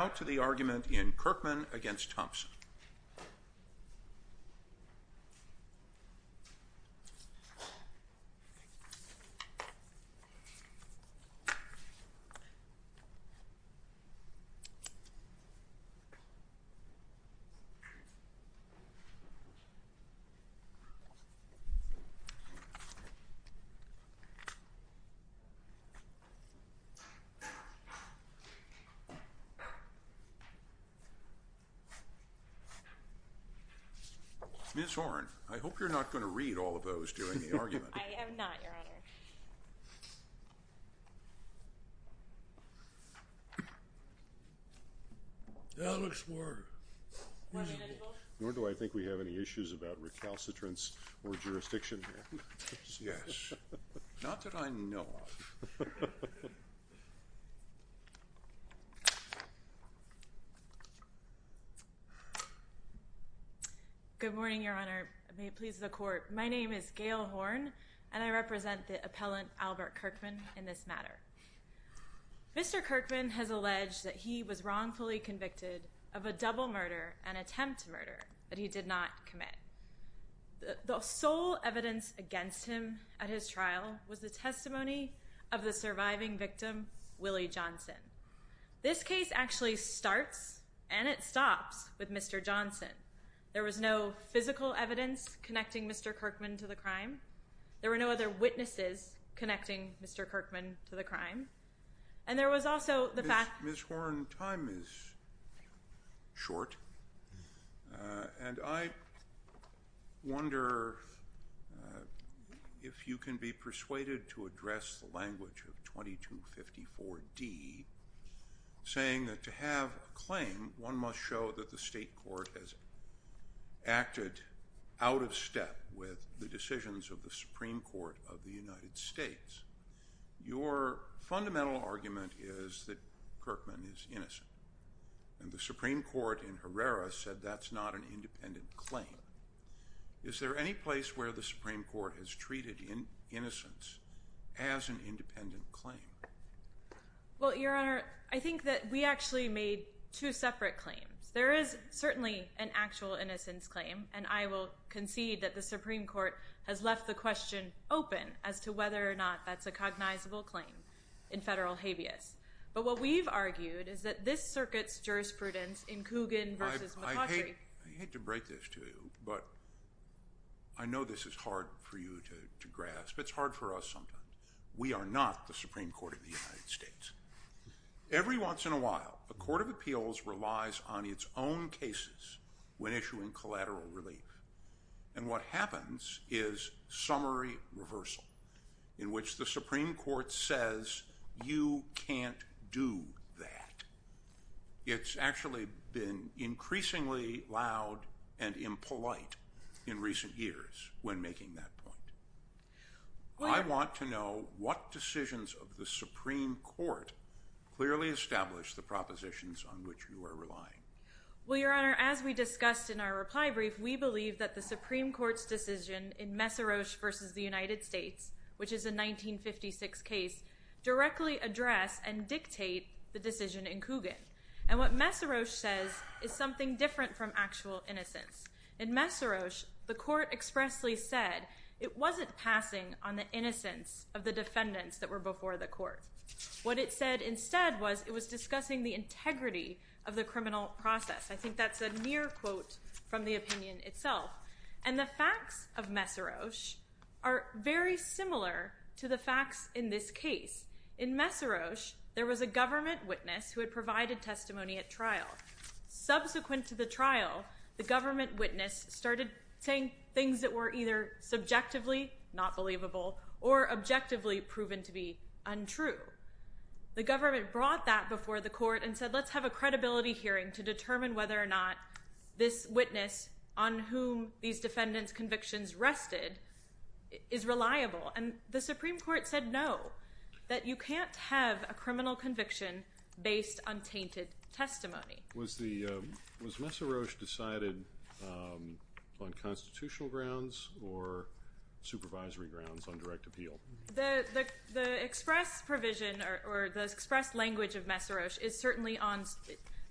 How to the argument in Kirkman v. Thompson Ms. Horne, I hope you're not going to read all of those during the argument. I am not, Your Honor. Alex Ward Nor do I think we have any issues about recalcitrance or jurisdiction here. Yes. Not that I know of. Good morning, Your Honor. May it please the Court. My name is Gail Horne, and I represent the appellant Albert Kirkman in this matter. Mr. Kirkman has alleged that he was wrongfully convicted of a double murder and attempt to murder that he did not commit. The sole evidence against him at his trial was the testimony of the surviving victim, Willie Johnson. This case actually starts and it stops with Mr. Johnson. There was no physical evidence connecting Mr. Kirkman to the crime. There were no other witnesses connecting Mr. Kirkman to the crime. Ms. Horne, time is short, and I wonder if you can be persuaded to address the language of 2254d, saying that to have a claim, one must show that the state court has acted out of step with the decisions of the Supreme Court of the United States. Your fundamental argument is that Kirkman is innocent, and the Supreme Court in Herrera said that's not an independent claim. Is there any place where the Supreme Court has treated innocence as an independent claim? Well, Your Honor, I think that we actually made two separate claims. There is certainly an actual innocence claim, and I will concede that the Supreme Court has left the question open as to whether or not that's a cognizable claim in federal habeas. But what we've argued is that this circuit's jurisprudence in Coogan v. McCautry— I hate to break this to you, but I know this is hard for you to grasp. It's hard for us sometimes. We are not the Supreme Court of the United States. Every once in a while, a court of appeals relies on its own cases when issuing collateral relief. And what happens is summary reversal, in which the Supreme Court says, you can't do that. It's actually been increasingly loud and impolite in recent years when making that point. I want to know what decisions of the Supreme Court clearly establish the propositions on which you are relying. Well, Your Honor, as we discussed in our reply brief, we believe that the Supreme Court's decision in Messaroch v. the United States, which is a 1956 case, directly address and dictate the decision in Coogan. And what Messaroch says is something different from actual innocence. In Messaroch, the court expressly said it wasn't passing on the innocence of the defendants that were before the court. What it said instead was it was discussing the integrity of the criminal process. I think that's a near quote from the opinion itself. And the facts of Messaroch are very similar to the facts in this case. In Messaroch, there was a government witness who had provided testimony at trial. Subsequent to the trial, the government witness started saying things that were either subjectively not believable or objectively proven to be untrue. The government brought that before the court and said, let's have a credibility hearing to determine whether or not this witness on whom these defendants' convictions rested is reliable. And the Supreme Court said no, that you can't have a criminal conviction based on tainted testimony. Was Messaroch decided on constitutional grounds or supervisory grounds on direct appeal? The express provision or the express language of Messaroch is certainly on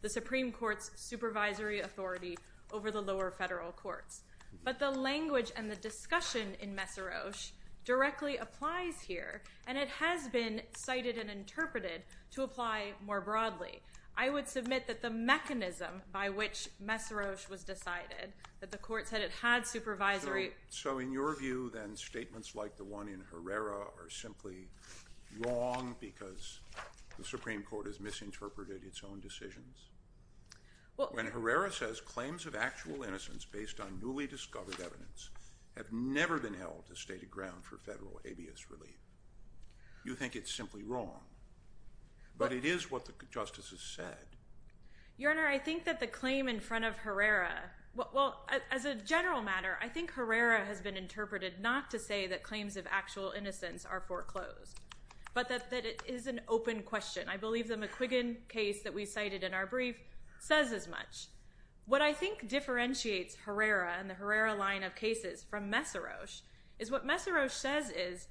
the Supreme Court's supervisory authority over the lower federal courts. But the language and the discussion in Messaroch directly applies here, and it has been cited and interpreted to apply more broadly. I would submit that the mechanism by which Messaroch was decided, that the court said it had supervisory— So in your view, then, statements like the one in Herrera are simply wrong because the Supreme Court has misinterpreted its own decisions? When Herrera says claims of actual innocence based on newly discovered evidence have never been held as stated ground for federal habeas relief, you think it's simply wrong. But it is what the justices said. Your Honor, I think that the claim in front of Herrera— Well, as a general matter, I think Herrera has been interpreted not to say that claims of actual innocence are foreclosed, but that it is an open question. I believe the McQuiggan case that we cited in our brief says as much. What I think differentiates Herrera and the Herrera line of cases from Messaroch is what Messaroch says is—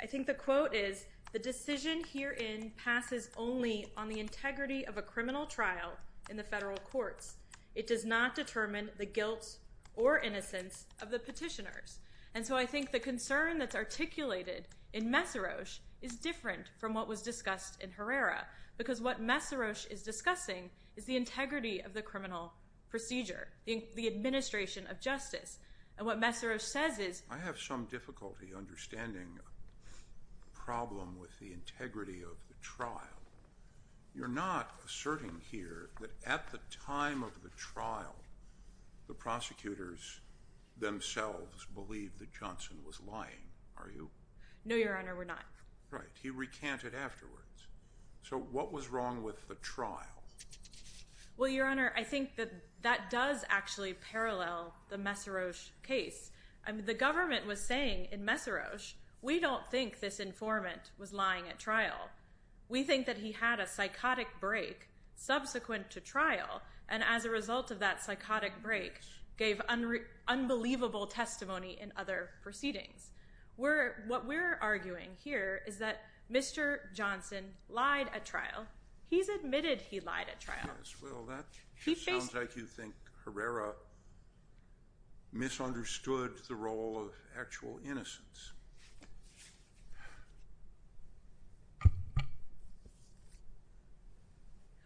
I think the quote is, the decision herein passes only on the integrity of a criminal trial in the federal courts. It does not determine the guilt or innocence of the petitioners. And so I think the concern that's articulated in Messaroch is different from what was discussed in Herrera because what Messaroch is discussing is the integrity of the criminal procedure, the administration of justice. And what Messaroch says is— I have some difficulty understanding the problem with the integrity of the trial. You're not asserting here that at the time of the trial, the prosecutors themselves believed that Johnson was lying, are you? No, Your Honor, we're not. Right. He recanted afterwards. So what was wrong with the trial? Well, Your Honor, I think that that does actually parallel the Messaroch case. The government was saying in Messaroch, we don't think this informant was lying at trial. We think that he had a psychotic break subsequent to trial, and as a result of that psychotic break, gave unbelievable testimony in other proceedings. What we're arguing here is that Mr. Johnson lied at trial. He's admitted he lied at trial. Well, that sounds like you think Herrera misunderstood the role of actual innocence.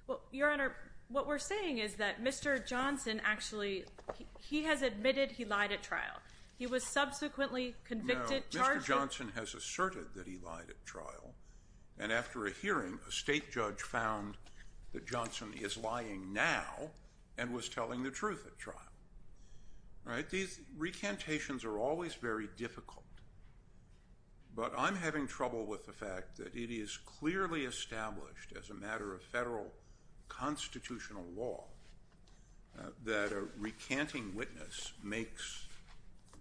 Well, Your Honor, what we're saying is that Mr. Johnson actually—he has admitted he lied at trial. He was subsequently convicted, charged— and was telling the truth at trial. These recantations are always very difficult, but I'm having trouble with the fact that it is clearly established as a matter of federal constitutional law that a recanting witness makes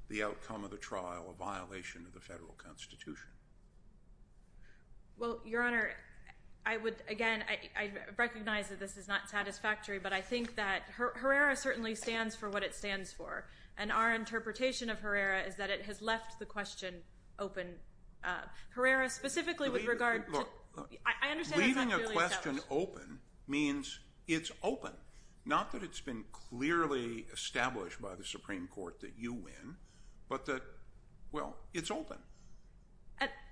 the outcome of the trial a violation of the federal constitution. Well, Your Honor, I would—again, I recognize that this is not satisfactory, but I think that Herrera certainly stands for what it stands for, and our interpretation of Herrera is that it has left the question open. Herrera specifically with regard to— Look, leaving a question open means it's open. Not that it's been clearly established by the Supreme Court that you win, but that, well, it's open.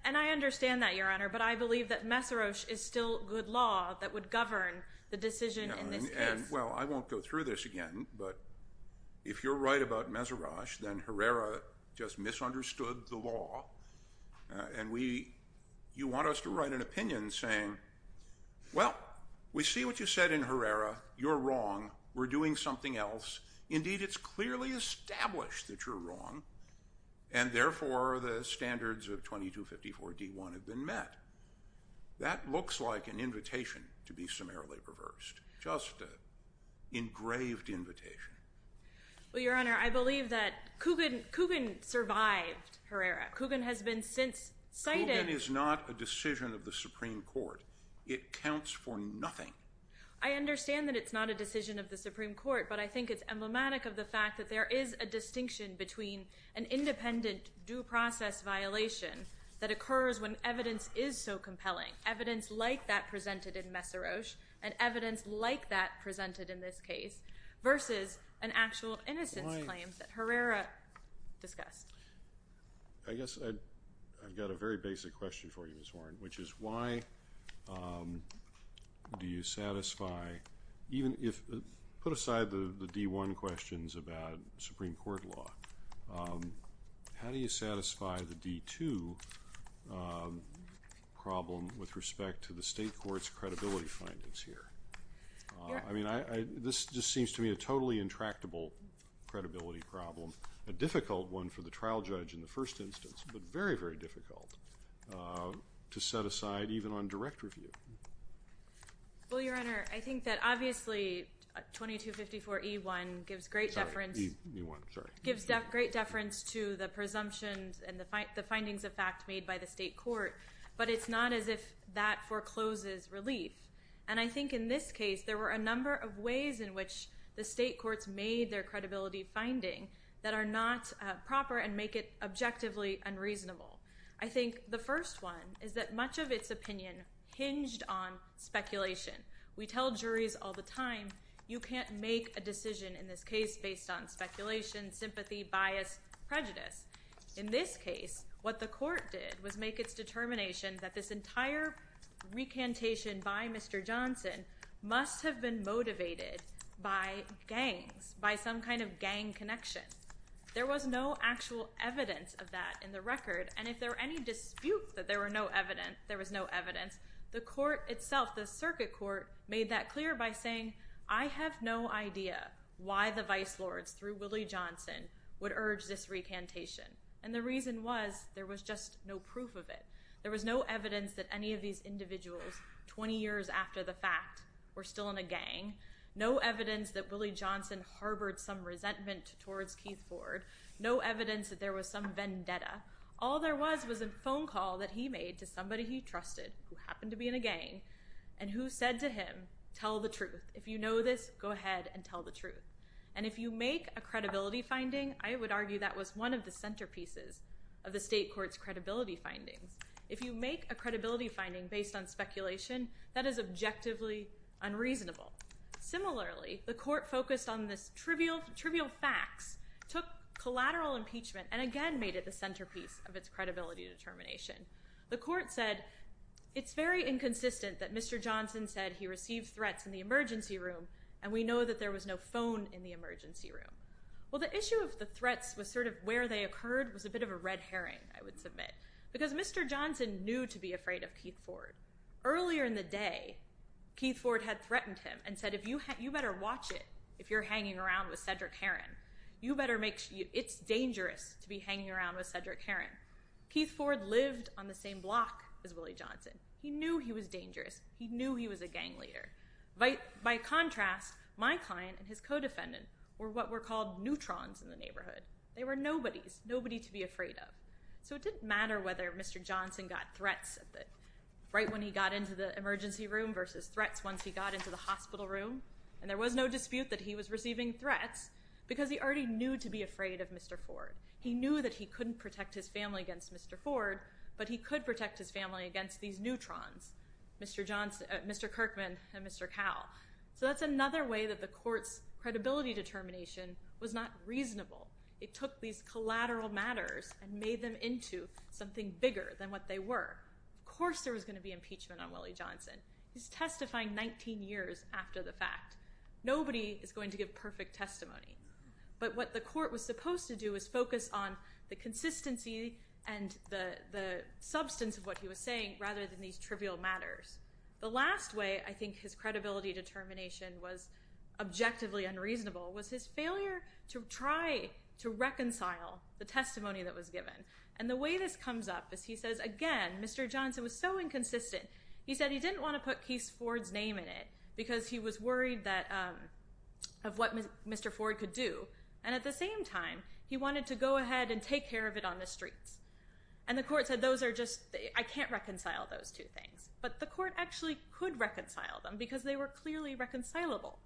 And I understand that, Your Honor, but I believe that Mesorosh is still good law that would govern the decision in this case. Well, I won't go through this again, but if you're right about Mesorosh, then Herrera just misunderstood the law, and you want us to write an opinion saying, well, we see what you said in Herrera. You're wrong. We're doing something else. Indeed, it's clearly established that you're wrong, and therefore the standards of 2254-D1 have been met. That looks like an invitation to be summarily reversed, just an engraved invitation. Well, Your Honor, I believe that Kugin survived Herrera. Kugin has been since cited— It's not a decision of the Supreme Court. It counts for nothing. I understand that it's not a decision of the Supreme Court, but I think it's emblematic of the fact that there is a distinction between an independent due process violation that occurs when evidence is so compelling, evidence like that presented in Mesorosh and evidence like that presented in this case, versus an actual innocence claim that Herrera discussed. I guess I've got a very basic question for you, Ms. Warren, which is why do you satisfy— even if—put aside the D1 questions about Supreme Court law. How do you satisfy the D2 problem with respect to the state court's credibility findings here? I mean, this just seems to me a totally intractable credibility problem, a difficult one for the trial judge in the first instance, but very, very difficult to set aside even on direct review. Well, Your Honor, I think that obviously 2254E1 gives great deference— Sorry, E1, sorry. —gives great deference to the presumptions and the findings of fact made by the state court, but it's not as if that forecloses relief. And I think in this case there were a number of ways in which the state courts made their credibility finding that are not proper and make it objectively unreasonable. I think the first one is that much of its opinion hinged on speculation. We tell juries all the time you can't make a decision in this case based on speculation, sympathy, bias, prejudice. In this case, what the court did was make its determination that this entire recantation by Mr. Johnson must have been motivated by gangs, by some kind of gang connection. There was no actual evidence of that in the record, and if there were any disputes that there was no evidence, the court itself, the circuit court, made that clear by saying, I have no idea why the vice lords through Willie Johnson would urge this recantation. And the reason was there was just no proof of it. There was no evidence that any of these individuals 20 years after the fact were still in a gang, no evidence that Willie Johnson harbored some resentment towards Keith Ford, no evidence that there was some vendetta. All there was was a phone call that he made to somebody he trusted who happened to be in a gang, and who said to him, tell the truth. If you know this, go ahead and tell the truth. And if you make a credibility finding, I would argue that was one of the centerpieces of the state court's credibility findings. If you make a credibility finding based on speculation, that is objectively unreasonable. Similarly, the court focused on this trivial facts, took collateral impeachment, and again made it the centerpiece of its credibility determination. The court said, it's very inconsistent that Mr. Johnson said he received threats in the emergency room, and we know that there was no phone in the emergency room. Well, the issue of the threats was sort of where they occurred was a bit of a red herring, I would submit, Earlier in the day, Keith Ford had threatened him and said, you better watch it if you're hanging around with Cedric Heron. It's dangerous to be hanging around with Cedric Heron. Keith Ford lived on the same block as Willie Johnson. He knew he was dangerous. He knew he was a gang leader. By contrast, my client and his co-defendant were what were called neutrons in the neighborhood. They were nobodies, nobody to be afraid of. So it didn't matter whether Mr. Johnson got threats right when he got into the emergency room versus threats once he got into the hospital room, and there was no dispute that he was receiving threats because he already knew to be afraid of Mr. Ford. He knew that he couldn't protect his family against Mr. Ford, but he could protect his family against these neutrons, Mr. Kirkman and Mr. Cowell. So that's another way that the court's credibility determination was not reasonable. It took these collateral matters and made them into something bigger than what they were. Of course there was going to be impeachment on Willie Johnson. He's testifying 19 years after the fact. Nobody is going to give perfect testimony. But what the court was supposed to do was focus on the consistency and the substance of what he was saying rather than these trivial matters. The last way I think his credibility determination was objectively unreasonable was his failure to try to reconcile the testimony that was given. And the way this comes up is he says, again, Mr. Johnson was so inconsistent. He said he didn't want to put Keith Ford's name in it because he was worried of what Mr. Ford could do, and at the same time he wanted to go ahead and take care of it on the streets. And the court said, those are just, I can't reconcile those two things. But the court actually could reconcile them because they were clearly reconcilable.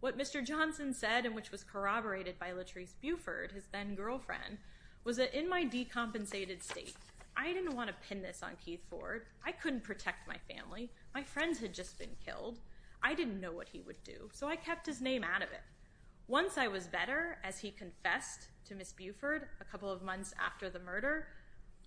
What Mr. Johnson said and which was corroborated by Latrice Buford, his then-girlfriend, was that in my decompensated state, I didn't want to pin this on Keith Ford. I couldn't protect my family. My friends had just been killed. I didn't know what he would do, so I kept his name out of it. Once I was better, as he confessed to Ms. Buford a couple of months after the murder,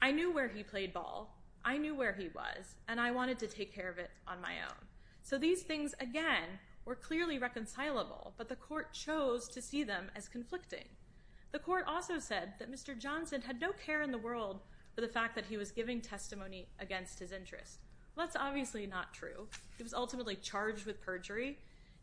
I knew where he played ball, I knew where he was, and I wanted to take care of it on my own. So these things, again, were clearly reconcilable, but the court chose to see them as conflicting. The court also said that Mr. Johnson had no care in the world for the fact that he was giving testimony against his interests. Well, that's obviously not true. He was ultimately charged with perjury.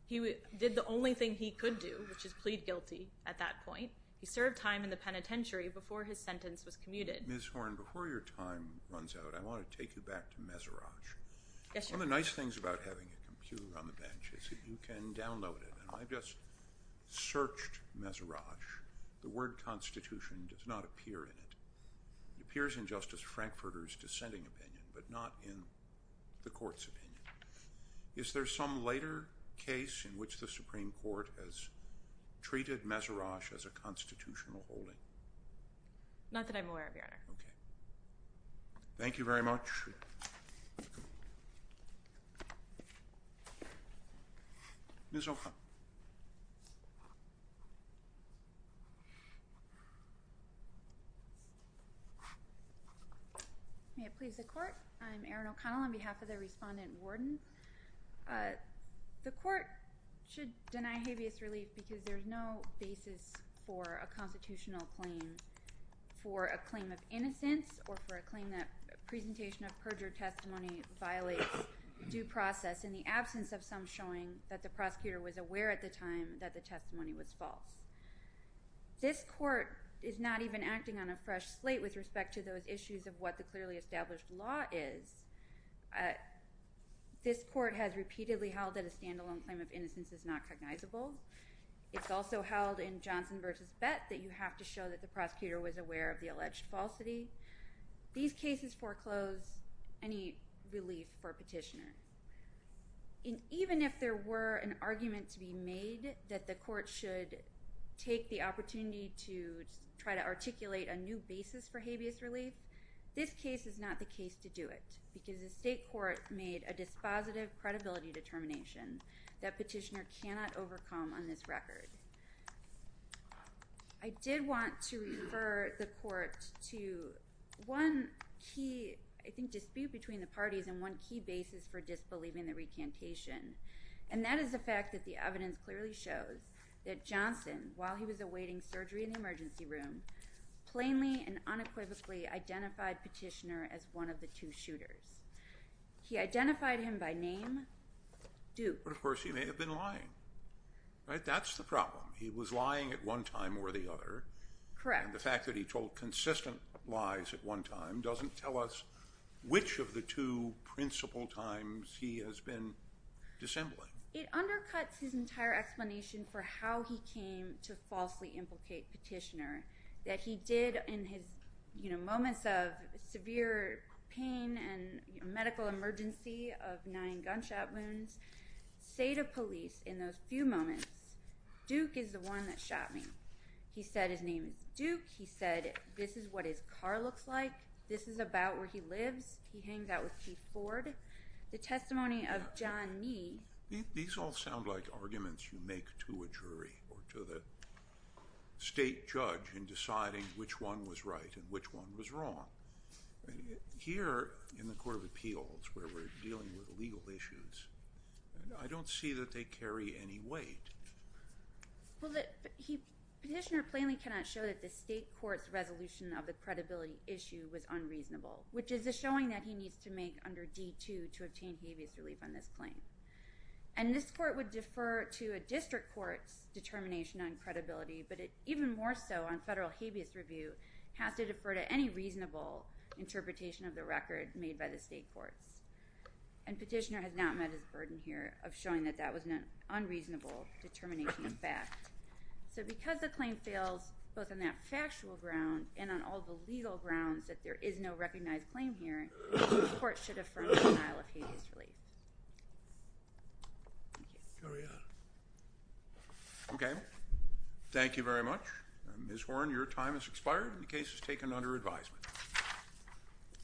He did the only thing he could do, which is plead guilty at that point. He served time in the penitentiary before his sentence was commuted. Ms. Horne, before your time runs out, I want to take you back to Meserach. Yes, sir. One of the nice things about having a computer on the bench is that you can download it, and I've just searched Meserach. The word constitution does not appear in it. It appears in Justice Frankfurter's dissenting opinion, but not in the court's opinion. Is there some later case in which the Supreme Court has treated Meserach as a constitutional holding? Not that I'm aware of, Your Honor. Okay. Thank you very much. Ms. O'Connell. May it please the court? I'm Erin O'Connell on behalf of the respondent warden. The court should deny habeas relief because there is no basis for a constitutional claim. For a claim of innocence or for a claim that presentation of perjured testimony violates due process in the absence of some showing that the prosecutor was aware at the time that the testimony was false. This court is not even acting on a fresh slate with respect to those issues of what the clearly established law is. This court has repeatedly held that a standalone claim of innocence is not cognizable. It's also held in Johnson v. Bett that you have to show that the prosecutor was aware of the alleged falsity. These cases foreclose any relief for a petitioner. Even if there were an argument to be made that the court should take the opportunity to try to articulate a new basis for habeas relief, this case is not the case to do it because the state court made a dispositive credibility determination that petitioner cannot overcome on this record. I did want to refer the court to one key I think dispute between the parties and one key basis for disbelieving the recantation, and that is the fact that the evidence clearly shows that Johnson, while he was awaiting surgery in the emergency room, plainly and unequivocally identified petitioner as one of the two shooters. He identified him by name, Duke. But of course he may have been lying, right? That's the problem. He was lying at one time or the other. Correct. And the fact that he told consistent lies at one time doesn't tell us which of the two principal times he has been dissembling. It undercuts his entire explanation for how he came to falsely implicate petitioner, that he did in his moments of severe pain and medical emergency of nine gunshot wounds, say to police in those few moments, Duke is the one that shot me. He said his name is Duke. He said this is what his car looks like. This is about where he lives. He hangs out with Keith Ford. The testimony of John Knee. These all sound like arguments you make to a jury or to the state judge in deciding which one was right and which one was wrong. Here in the Court of Appeals where we're dealing with legal issues, I don't see that they carry any weight. Petitioner plainly cannot show that the state court's resolution of the credibility issue was unreasonable, which is a showing that he needs to make under D-2 to obtain habeas relief on this claim. And this court would defer to a district court's determination on credibility, but it even more so on federal habeas review has to defer to any reasonable interpretation of the record made by the state courts. And petitioner has not met his burden here of showing that that was an unreasonable determination of fact. So because the claim fails both on that factual ground and on all the legal grounds that there is no recognized claim here, the court should affirm denial of habeas relief. Thank you. Carry on. Okay. Thank you very much. Ms. Horne, your time has expired and the case is taken under advisement.